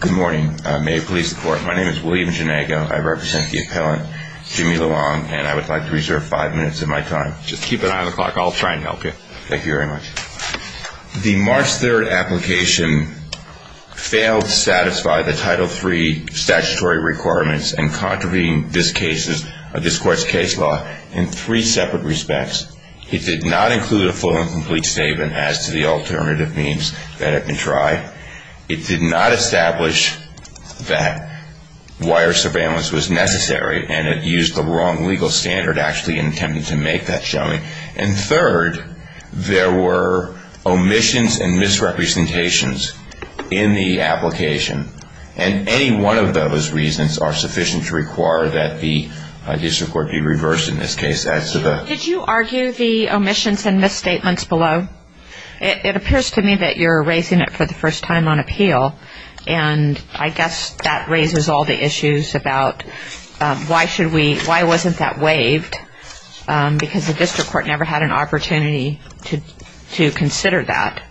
Good morning. May it please the court. My name is William Janago. I represent the appellant, Jimmy Luong, and I would like to reserve five minutes of my time. Just keep an eye on the clock. I'll try and help you. Thank you very much. The March 3rd application failed to satisfy the Title III statutory requirements and contravened this court's case law in three separate respects. It did not include a full and complete statement as to the alternative means that have been tried. It did not establish that wire surveillance was necessary, and it used the wrong legal standard, actually, in attempting to make that showing. And third, there were omissions and misrepresentations in the application, and any one of those reasons are sufficient to require that the district court be reversed in this case. Did you argue the omissions and misstatements below? It appears to me that you're raising it for the first time on appeal, and I guess that raises all the issues about why wasn't that waived, because the district court never had an opportunity to consider that.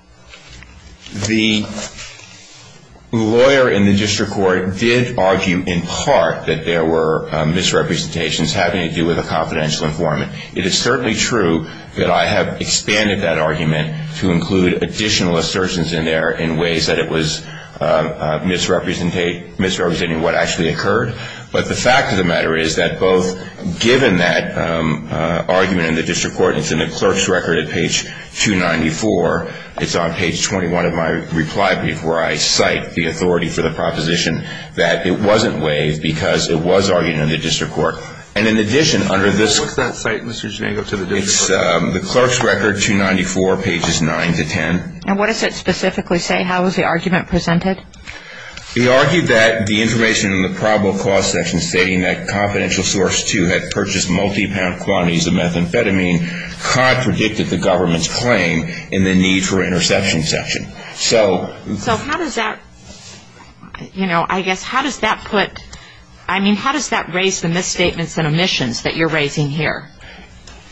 The lawyer in the district court did argue in part that there were misrepresentations having to do with a confidential informant. It is certainly true that I have expanded that argument to include additional assertions in there in ways that it was misrepresenting what actually occurred, but the fact of the matter is that both given that argument in the district court, and it's in the clerk's record at page 294, it's on page 21 of my reply brief where I cite the authority for the proposition that it wasn't waived because it was argued in the district court. And in addition, under this… What's that cite, Mr. Jango, to the district court? It's the clerk's record, 294, pages 9 to 10. And what does it specifically say? How was the argument presented? It argued that the information in the probable cause section stating that confidential source 2 had purchased multi-pound quantities of methamphetamine contradicted the government's claim in the need for interception section. So how does that, you know, I guess, how does that put… I mean, how does that raise the misstatements and omissions that you're raising here?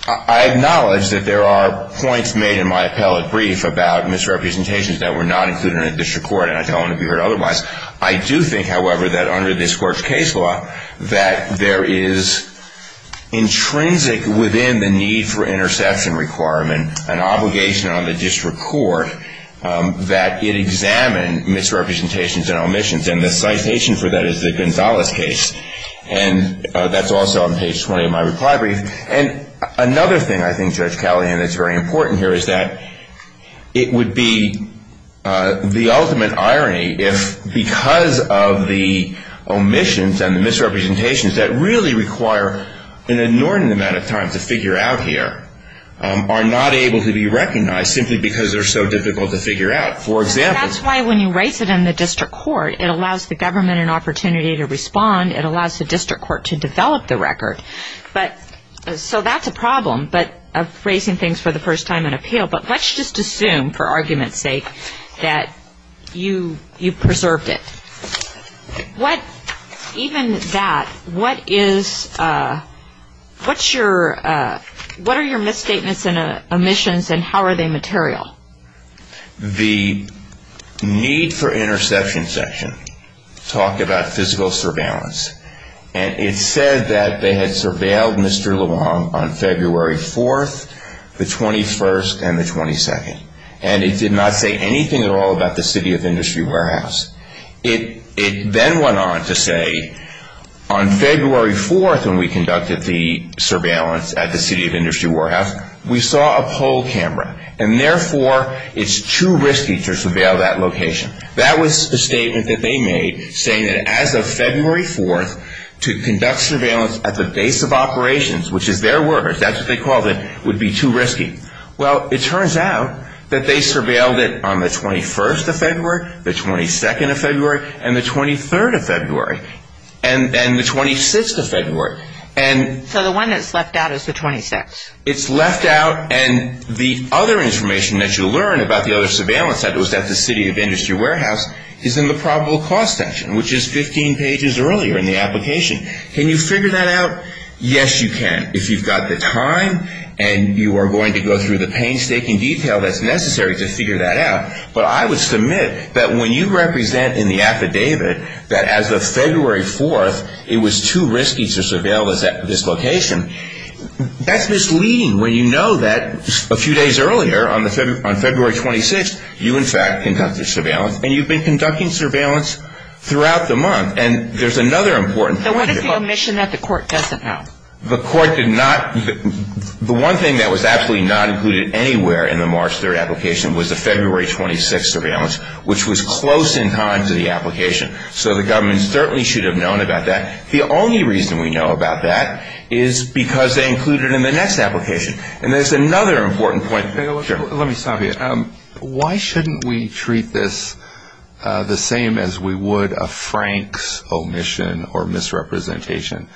I acknowledge that there are points made in my appellate brief about misrepresentations that were not included in the district court, and I don't want to be heard otherwise. I do think, however, that under this court's case law, that there is intrinsic within the need for interception requirement an obligation on the district court that it examine misrepresentations and omissions. And the citation for that is the Gonzalez case. And that's also on page 20 of my reply brief. And another thing I think, Judge Callahan, that's very important here is that it would be the ultimate irony if, because of the omissions and the misrepresentations that really require an inordinate amount of time to figure out here, are not able to be recognized simply because they're so difficult to figure out. And that's why when you raise it in the district court, it allows the government an opportunity to respond. It allows the district court to develop the record. So that's a problem of raising things for the first time in appeal. But let's just assume, for argument's sake, that you preserved it. Even that, what are your misstatements and omissions, and how are they material? The need for interception section talked about physical surveillance. And it said that they had surveilled Mr. LeBlanc on February 4th, the 21st, and the 22nd. And it did not say anything at all about the City of Industry warehouse. It then went on to say, on February 4th, when we conducted the surveillance at the City of Industry warehouse, we saw a poll camera, and therefore it's too risky to surveil that location. That was the statement that they made, saying that as of February 4th, to conduct surveillance at the base of operations, which is their words, that's what they called it, would be too risky. Well, it turns out that they surveilled it on the 21st of February, the 22nd of February, and the 23rd of February, and the 26th of February. So the one that's left out is the 26th? It's left out, and the other information that you learn about the other surveillance that was at the City of Industry warehouse is in the probable cause section, which is 15 pages earlier in the application. Can you figure that out? Yes, you can, if you've got the time and you are going to go through the painstaking detail that's necessary to figure that out. But I would submit that when you represent in the affidavit that as of February 4th, it was too risky to surveil this location, that's misleading when you know that a few days earlier, on February 26th, you in fact conducted surveillance, and you've been conducting surveillance throughout the month. And there's another important point here. So what is the omission that the court doesn't have? The court did not, the one thing that was absolutely not included anywhere in the March 3rd application was the February 26th surveillance, which was close in time to the application. So the government certainly should have known about that. The only reason we know about that is because they included it in the next application. And there's another important point. Let me stop you. Why shouldn't we treat this the same as we would a Frank's omission or misrepresentation,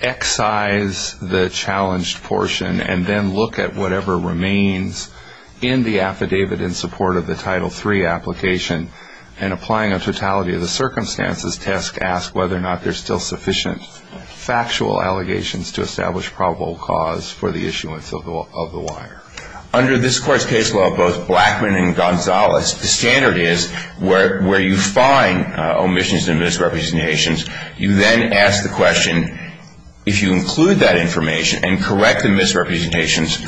excise the challenged portion and then look at whatever remains in the affidavit in support of the Title III application and applying a totality of the circumstances test to ask whether or not there's still sufficient factual allegations to establish probable cause for the issuance of the wire? Under this court's case law, both Blackman and Gonzalez, the standard is where you find omissions and misrepresentations, you then ask the question, if you include that information and correct the misrepresentations,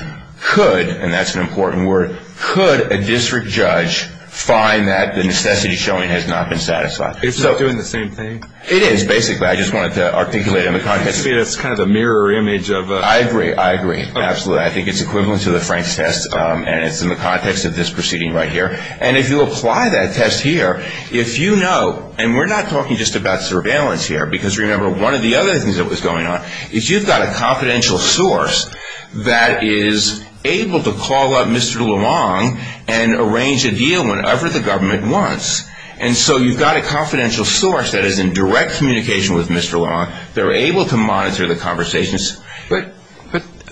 could, and that's an important word, could a district judge find that the necessity showing has not been satisfied? It's not doing the same thing? It is, basically. I just wanted to articulate it in the context. It's kind of a mirror image of a... I agree. I agree. Absolutely. I think it's equivalent to the Frank's test, and it's in the context of this proceeding right here. And if you apply that test here, if you know, and we're not talking just about surveillance here, because remember, one of the other things that was going on is you've got a confidential source that is able to call up Mr. Luong and arrange a deal whenever the government wants. And so you've got a confidential source that is in direct communication with Mr. Luong. They're able to monitor the conversations. But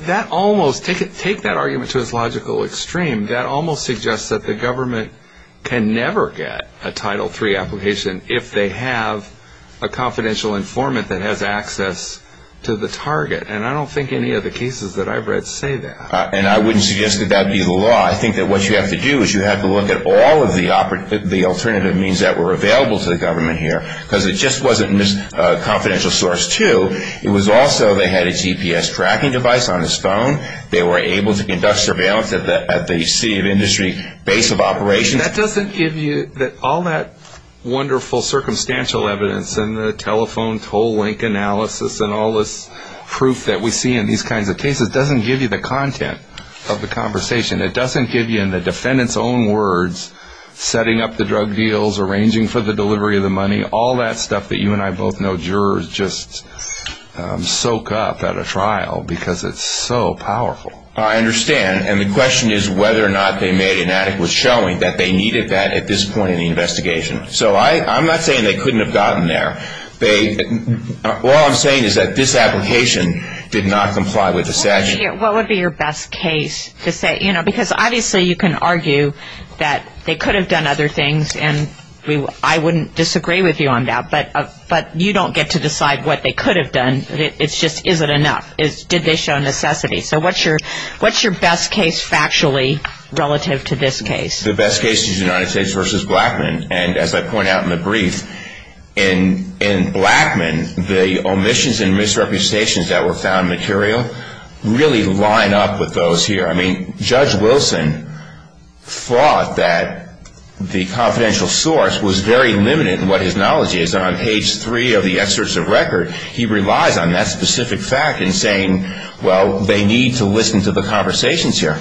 that almost, take that argument to its logical extreme, that almost suggests that the government can never get a Title III application if they have a confidential informant that has access to the target. And I don't think any of the cases that I've read say that. And I wouldn't suggest that that be the law. I think that what you have to do is you have to look at all of the alternative means that were available to the government here, because it just wasn't in this confidential source, too. It was also they had a GPS tracking device on his phone. They were able to conduct surveillance at the city of industry base of operations. That doesn't give you all that wonderful circumstantial evidence and the telephone toll link analysis and all this proof that we see in these kinds of cases doesn't give you the content of the conversation. It doesn't give you in the defendant's own words setting up the drug deals, arranging for the delivery of the money, all that stuff that you and I both know jurors just soak up at a trial because it's so powerful. I understand. And the question is whether or not they made an adequate showing that they needed that at this point in the investigation. So I'm not saying they couldn't have gotten there. All I'm saying is that this application did not comply with the statute. What would be your best case to say? Because obviously you can argue that they could have done other things, and I wouldn't disagree with you on that, but you don't get to decide what they could have done. It's just, is it enough? Did they show necessity? So what's your best case factually relative to this case? The best case is United States v. Blackmun, and as I point out in the brief, in Blackmun the omissions and misrepresentations that were found material really line up with those here. I mean, Judge Wilson thought that the confidential source was very limited in what his knowledge is. On page three of the excerpts of record, he relies on that specific fact in saying, well, they need to listen to the conversations here.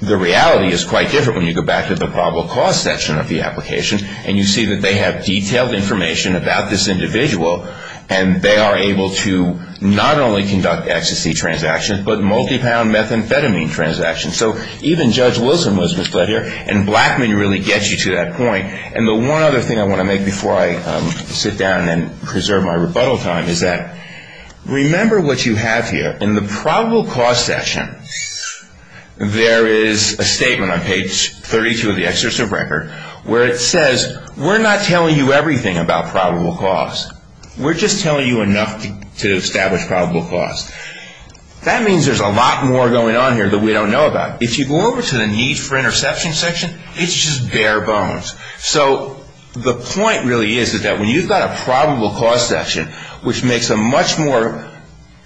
The reality is quite different when you go back to the probable cause section of the application and you see that they have detailed information about this individual, and they are able to not only conduct XTC transactions but multi-pound methamphetamine transactions. So even Judge Wilson was misled here, and Blackmun really gets you to that point. And the one other thing I want to make before I sit down and preserve my rebuttal time is that remember what you have here. In the probable cause section there is a statement on page 32 of the excerpts of record where it says we're not telling you everything about probable cause. We're just telling you enough to establish probable cause. That means there's a lot more going on here that we don't know about. If you go over to the need for interception section, it's just bare bones. So the point really is that when you've got a probable cause section, which makes a much more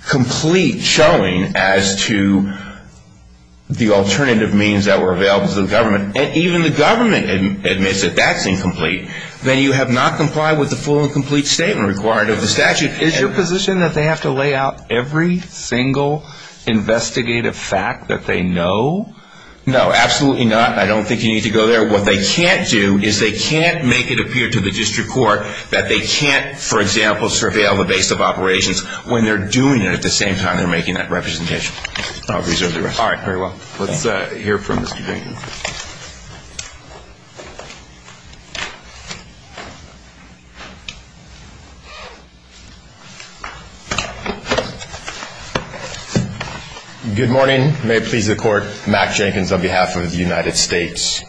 complete showing as to the alternative means that were available to the government, and even the government admits that that's incomplete, then you have not complied with the full and complete statement required of the statute. Is your position that they have to lay out every single investigative fact that they know? No, absolutely not. I don't think you need to go there. What they can't do is they can't make it appear to the district court that they can't, for example, surveil the base of operations when they're doing it at the same time they're making that representation. I'll reserve the rest. All right, very well. Let's hear from Mr. Jenkins. Good morning. May it please the court, Mack Jenkins on behalf of the United States.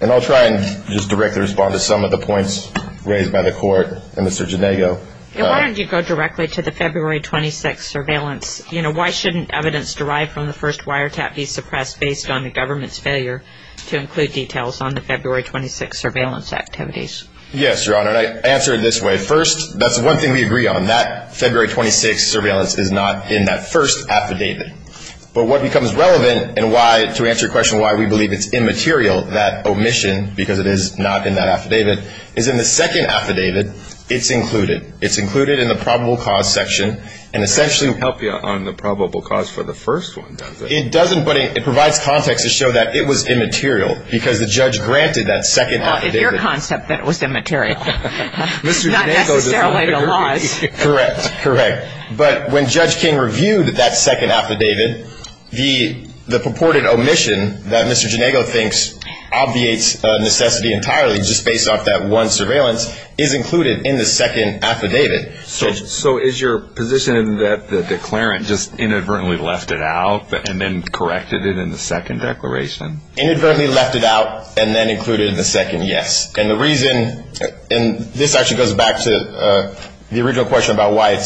And I'll try and just directly respond to some of the points raised by the court and Mr. Janego. Why don't you go directly to the February 26th surveillance? You know, why shouldn't evidence derived from the first wiretap be suppressed based on the government's failure to include details on the February 26th surveillance activities? Yes, Your Honor, and I answer it this way. First, that's one thing we agree on. That February 26th surveillance is not in that first affidavit. But what becomes relevant and why, to answer your question why we believe it's immaterial, that omission, because it is not in that affidavit, is in the second affidavit it's included. It's included in the probable cause section. It doesn't help you on the probable cause for the first one, does it? It doesn't, but it provides context to show that it was immaterial because the judge granted that second affidavit. Well, it's your concept that it was immaterial. It's not necessarily the law's. Correct, correct. But when Judge King reviewed that second affidavit, the purported omission that Mr. Janego thinks obviates necessity entirely just based off that one surveillance is included in the second affidavit. So is your position that the declarant just inadvertently left it out and then corrected it in the second declaration? Inadvertently left it out and then included it in the second, yes. And the reason, and this actually goes back to the original question about why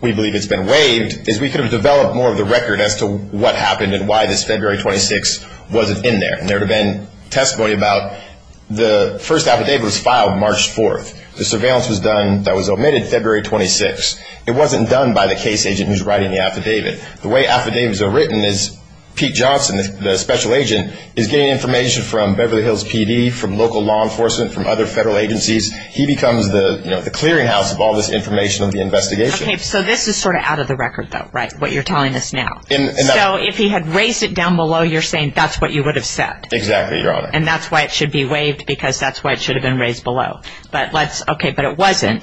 we believe it's been waived, is we could have developed more of the record as to what happened and why this February 26th wasn't in there. There would have been testimony about the first affidavit was filed March 4th. The surveillance was done that was omitted February 26th. It wasn't done by the case agent who's writing the affidavit. The way affidavits are written is Pete Johnson, the special agent, is getting information from Beverly Hills PD, from local law enforcement, from other federal agencies. He becomes the clearinghouse of all this information of the investigation. Okay, so this is sort of out of the record, though, right, what you're telling us now. So if he had raised it down below, you're saying that's what you would have said. Exactly, Your Honor. And that's why it should be waived because that's why it should have been raised below. But let's, okay, but it wasn't.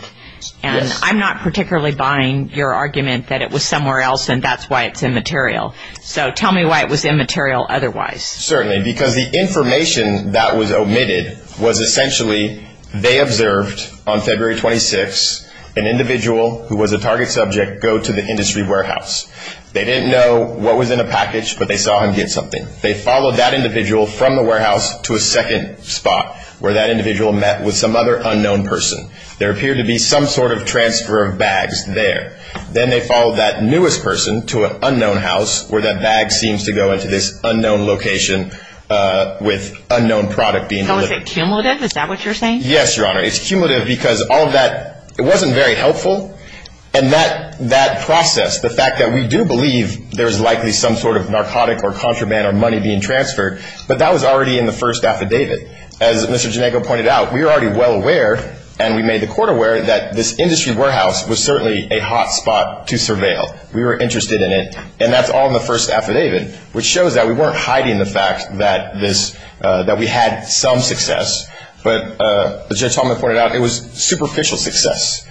And I'm not particularly buying your argument that it was somewhere else and that's why it's immaterial. So tell me why it was immaterial otherwise. Certainly, because the information that was omitted was essentially they observed on February 26th an individual who was a target subject go to the industry warehouse. They didn't know what was in the package, but they saw him get something. They followed that individual from the warehouse to a second spot where that individual met with some other unknown person. There appeared to be some sort of transfer of bags there. Then they followed that newest person to an unknown house where that bag seems to go into this unknown location with unknown product being delivered. So is it cumulative? Is that what you're saying? Yes, Your Honor. It's cumulative because all of that, it wasn't very helpful. And that process, the fact that we do believe there's likely some sort of narcotic or contraband or money being transferred, but that was already in the first affidavit. As Mr. Ginego pointed out, we were already well aware, and we made the court aware, that this industry warehouse was certainly a hot spot to surveil. We were interested in it, and that's all in the first affidavit, which shows that we weren't hiding the fact that this, that we had some success. But as Judge Talman pointed out, it was superficial success.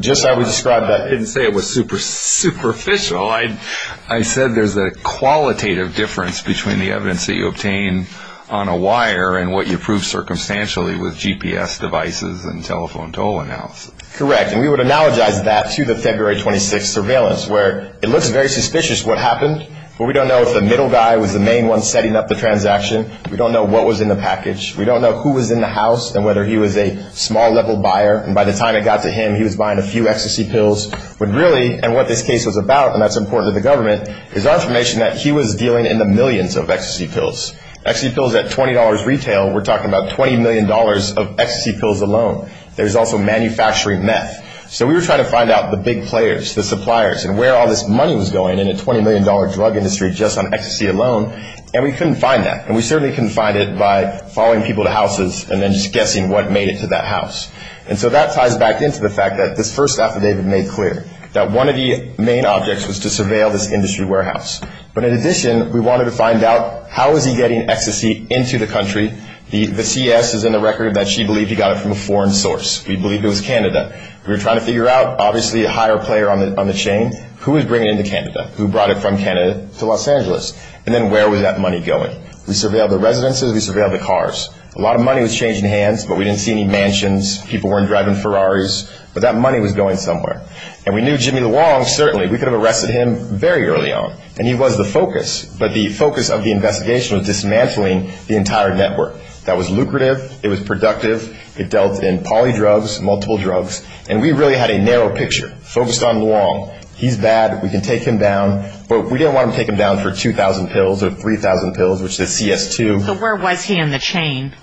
Just how we described that. I didn't say it was superficial. I said there's a qualitative difference between the evidence that you obtain on a wire and what you prove circumstantially with GPS devices and telephone toll analysis. Correct. And we would analogize that to the February 26th surveillance where it looks very suspicious what happened, but we don't know if the middle guy was the main one setting up the transaction. We don't know what was in the package. We don't know who was in the house and whether he was a small-level buyer. And by the time it got to him, he was buying a few ecstasy pills. But really, and what this case was about, and that's important to the government, is our information that he was dealing in the millions of ecstasy pills. Ecstasy pills at $20 retail, we're talking about $20 million of ecstasy pills alone. There's also manufacturing meth. So we were trying to find out the big players, the suppliers, and where all this money was going in a $20 million drug industry just on ecstasy alone, and we couldn't find that. And we certainly couldn't find it by following people to houses and then just guessing what made it to that house. And so that ties back into the fact that this first affidavit made clear that one of the main objects was to surveil this industry warehouse. But in addition, we wanted to find out how was he getting ecstasy into the country. The CS is in the record that she believed he got it from a foreign source. We believed it was Canada. We were trying to figure out, obviously, a higher player on the chain. Who was bringing it into Canada? Who brought it from Canada to Los Angeles? And then where was that money going? We surveilled the residences. We surveilled the cars. A lot of money was changing hands, but we didn't see any mansions. People weren't driving Ferraris. But that money was going somewhere. And we knew Jimmy Luong, certainly. We could have arrested him very early on, and he was the focus. But the focus of the investigation was dismantling the entire network. That was lucrative. It was productive. It dealt in polydrugs, multiple drugs. And we really had a narrow picture focused on Luong. He's bad. We can take him down. But we didn't want to take him down for 2,000 pills or 3,000 pills, which is CS2. So where was he in the chain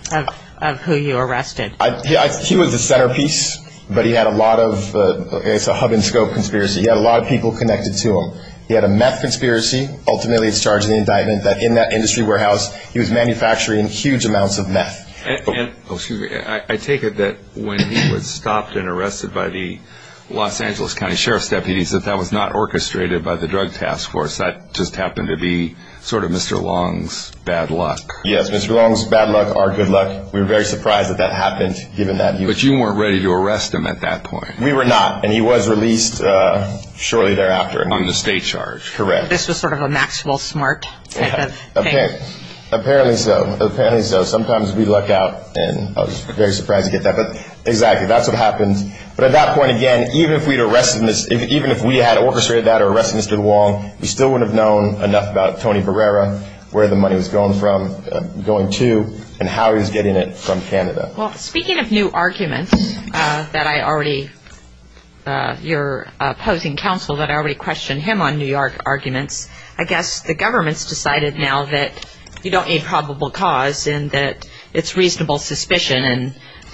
of who you arrested? He was the centerpiece, but he had a lot of hub-and-scope conspiracy. He had a lot of people connected to him. He had a meth conspiracy. Ultimately, it's charged in the indictment that in that industry warehouse, he was manufacturing huge amounts of meth. And I take it that when he was stopped and arrested by the Los Angeles County Sheriff's deputies, that that was not orchestrated by the Drug Task Force. That just happened to be sort of Mr. Luong's bad luck. Yes, Mr. Luong's bad luck, our good luck. We were very surprised that that happened, given that he was. But you weren't ready to arrest him at that point. We were not, and he was released shortly thereafter. On the state charge. Correct. This was sort of a Maxwell Smart type of thing. Apparently so. Apparently so. Sometimes we luck out, and I was very surprised to get that. But exactly, that's what happened. But at that point, again, even if we'd arrested Mr. Luong, we still wouldn't have known enough about Tony Barrera, where the money was going to, and how he was getting it from Canada. Well, speaking of new arguments that I already, your opposing counsel, that I already questioned him on New York arguments, I guess the government's decided now that you don't need probable cause and that it's reasonable suspicion,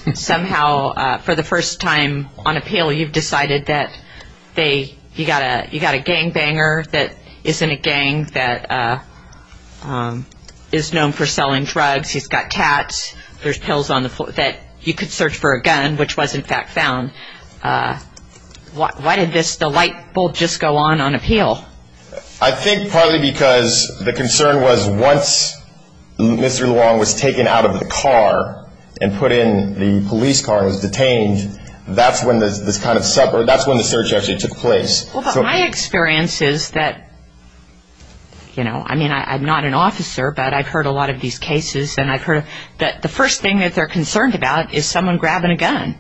and somehow for the first time on appeal, you've decided that you've got a gangbanger that isn't a gang, that is known for selling drugs, he's got tats, there's pills on the floor, that you could search for a gun, which was in fact found. Why did the light bulb just go on on appeal? I think partly because the concern was once Mr. Luong was taken out of the car and put in the police car and was detained, that's when the search actually took place. Well, but my experience is that, you know, I mean, I'm not an officer, but I've heard a lot of these cases, and I've heard that the first thing that they're concerned about is someone grabbing a gun.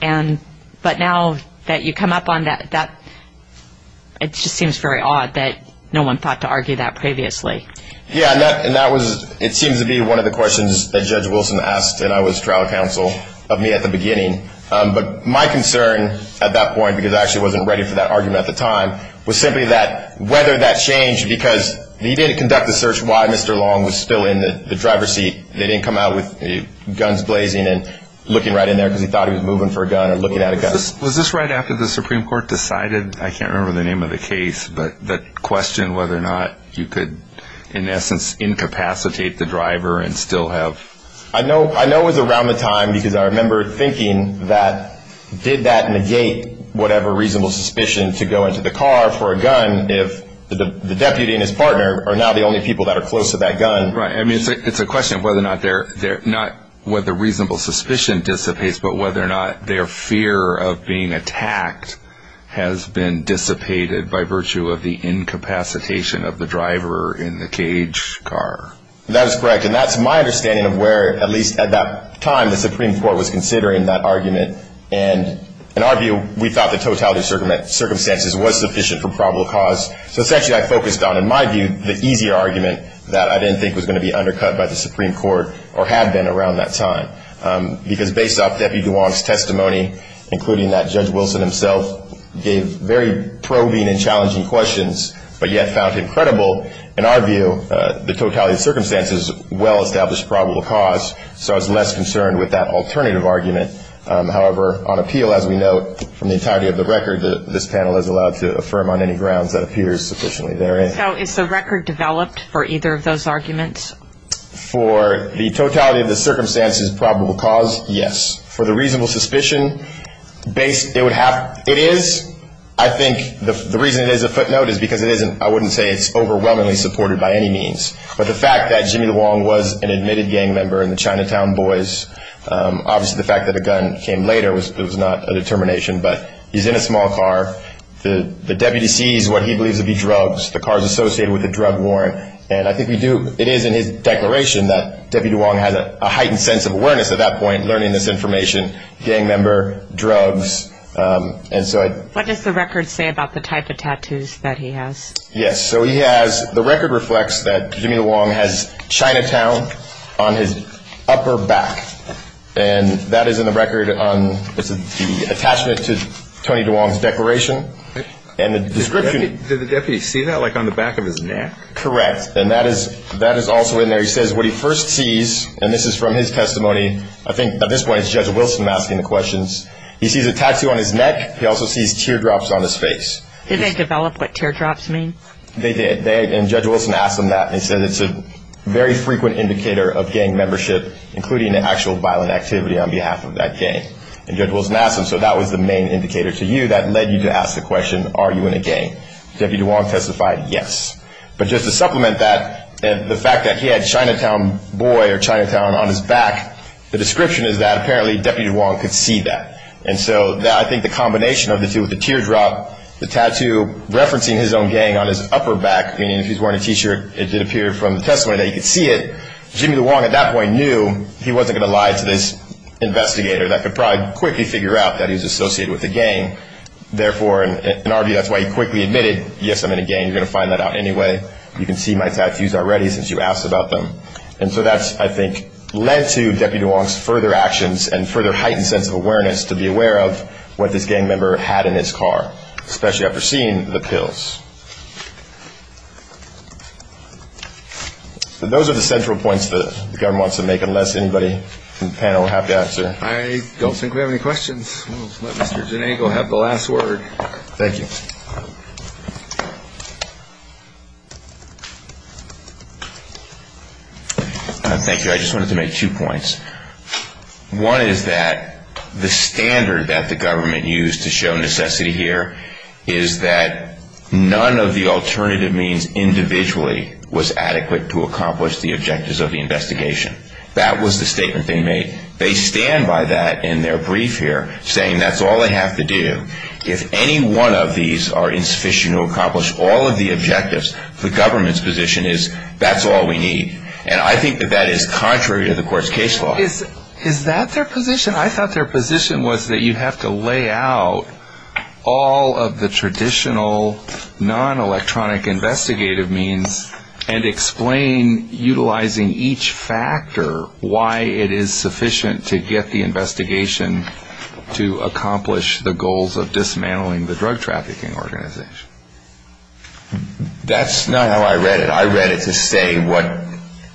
But now that you come up on that, it just seems very odd that no one thought to argue that previously. Yeah, and that was, it seems to be one of the questions that Judge Wilson asked, and I was trial counsel of me at the beginning. But my concern at that point, because I actually wasn't ready for that argument at the time, was simply that whether that changed, because he didn't conduct the search, why Mr. Luong was still in the driver's seat. They didn't come out with guns blazing and looking right in there because he thought he was moving for a gun or looking at a gun. Was this right after the Supreme Court decided, I can't remember the name of the case, but the question whether or not you could, in essence, incapacitate the driver and still have... I know it was around the time, because I remember thinking that, did that negate whatever reasonable suspicion to go into the car for a gun if the deputy and his partner are now the only people that are close to that gun? Right, I mean, it's a question of whether or not they're, not whether reasonable suspicion dissipates, but whether or not their fear of being attacked has been dissipated by virtue of the incapacitation of the driver in the cage car. That is correct. And that's my understanding of where, at least at that time, the Supreme Court was considering that argument. And in our view, we thought the totality of circumstances was sufficient for probable cause. So essentially, I focused on, in my view, the easy argument that I didn't think was going to be undercut by the Supreme Court or have been around that time, because based off Deputy Duong's testimony, including that Judge Wilson himself gave very probing and challenging questions, but yet found incredible, in our view, the totality of circumstances well-established probable cause. So I was less concerned with that alternative argument. However, on appeal, as we note, from the entirety of the record, this panel is allowed to affirm on any grounds that appears sufficiently therein. So is the record developed for either of those arguments? For the totality of the circumstances probable cause, yes. For the reasonable suspicion, it is. I think the reason it is a footnote is because it isn't. I wouldn't say it's overwhelmingly supported by any means. But the fact that Jimmy Duong was an admitted gang member in the Chinatown Boys, obviously the fact that a gun came later was not a determination, but he's in a small car. The deputy sees what he believes to be drugs. The car is associated with a drug warrant. It is in his declaration that Deputy Duong has a heightened sense of awareness at that point, learning this information, gang member, drugs. What does the record say about the type of tattoos that he has? Yes. The record reflects that Jimmy Duong has Chinatown on his upper back. And that is in the record on the attachment to Tony Duong's declaration. Did the deputy see that, like on the back of his neck? Correct. And that is also in there. He says what he first sees, and this is from his testimony. I think at this point it's Judge Wilson asking the questions. He sees a tattoo on his neck. He also sees teardrops on his face. Did they develop what teardrops mean? They did. And Judge Wilson asked him that. And he said it's a very frequent indicator of gang membership, including the actual violent activity on behalf of that gang. And Judge Wilson asked him, so that was the main indicator to you. That led you to ask the question, are you in a gang? Deputy Duong testified yes. But just to supplement that, the fact that he had Chinatown boy or Chinatown on his back, the description is that apparently Deputy Duong could see that. And so I think the combination of the two, the teardrop, the tattoo, referencing his own gang on his upper back, meaning if he's wearing a T-shirt, it did appear from the testimony that he could see it, Jimmy Duong at that point knew he wasn't going to lie to this investigator that could probably quickly figure out that he was associated with a gang. Therefore, in our view, that's why he quickly admitted, yes, I'm in a gang. You're going to find that out anyway. You can see my tattoos already since you asked about them. And so that's, I think, led to Deputy Duong's further actions and further heightened sense of awareness to be aware of what this gang member had in his car, especially after seeing the pills. Those are the central points that the government wants to make, unless anybody on the panel would have to answer. I don't think we have any questions. Let's let Mr. Ginego have the last word. Thank you. Thank you. I just wanted to make two points. One is that the standard that the government used to show necessity here is that none of the alternative means individually was adequate to accomplish the objectives of the investigation. That was the statement they made. They stand by that in their brief here, saying that's all they have to do. If any one of these are insufficient to accomplish all of the objectives, the government's position is that's all we need. And I think that that is contrary to the court's case law. Is that their position? I thought their position was that you have to lay out all of the traditional non-electronic investigative means and explain utilizing each factor why it is sufficient to get the investigation to accomplish the goals of dismantling the drug trafficking organization. That's not how I read it. I read it to say what ‑‑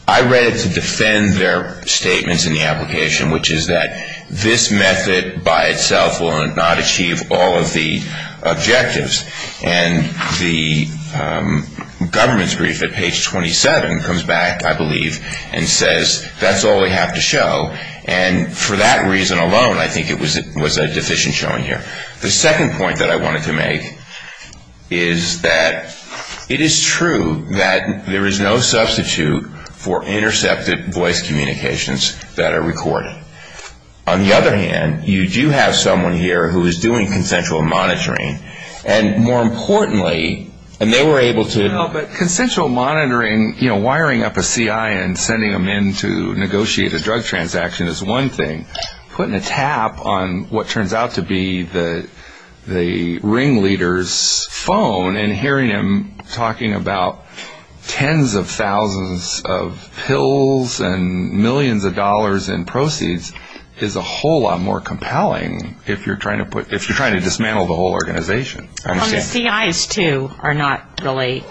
I read it to defend their statements in the application, which is that this method by itself will not achieve all of the objectives. And the government's brief at page 27 comes back, I believe, and says that's all we have to show. And for that reason alone, I think it was a deficient showing here. The second point that I wanted to make is that it is true that there is no substitute for intercepted voice communications that are recorded. On the other hand, you do have someone here who is doing consensual monitoring and, more importantly, and they were able to ‑‑ But consensual monitoring, you know, wiring up a CI and sending them in to negotiate a drug transaction is one thing. Putting a tap on what turns out to be the ring leader's phone and hearing him talking about tens of thousands of pills and millions of dollars in proceeds is a whole lot more compelling if you're trying to dismantle the whole organization. Well, the CIs, too, are not really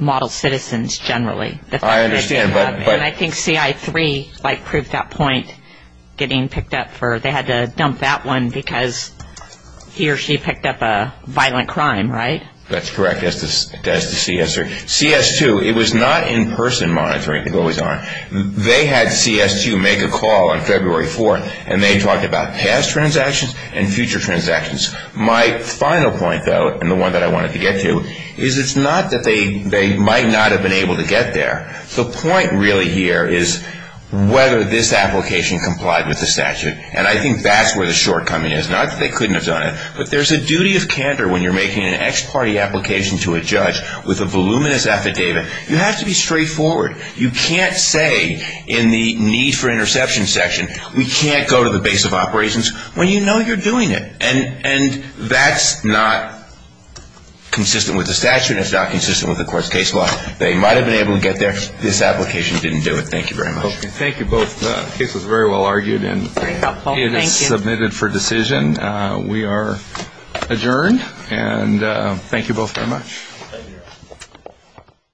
model citizens generally. I understand, but ‑‑ And I think CI3, like, proved that point, getting picked up for ‑‑ they had to dump that one because he or she picked up a violent crime, right? That's correct. That's the CS2. CS2, it was not in‑person monitoring. It always are. They had CS2 make a call on February 4th, and they talked about past transactions and future transactions. My final point, though, and the one that I wanted to get to, is it's not that they might not have been able to get there. The point really here is whether this application complied with the statute, and I think that's where the shortcoming is. Not that they couldn't have done it, but there's a duty of candor when you're making an ex‑party application to a judge with a voluminous affidavit. You have to be straightforward. You can't say in the need for interception section, we can't go to the base of operations when you know you're doing it. And that's not consistent with the statute, and it's not consistent with the court's case law. They might have been able to get there. This application didn't do it. Thank you very much. Thank you both. The case was very well argued, and it is submitted for decision. We are adjourned, and thank you both very much. Thank you.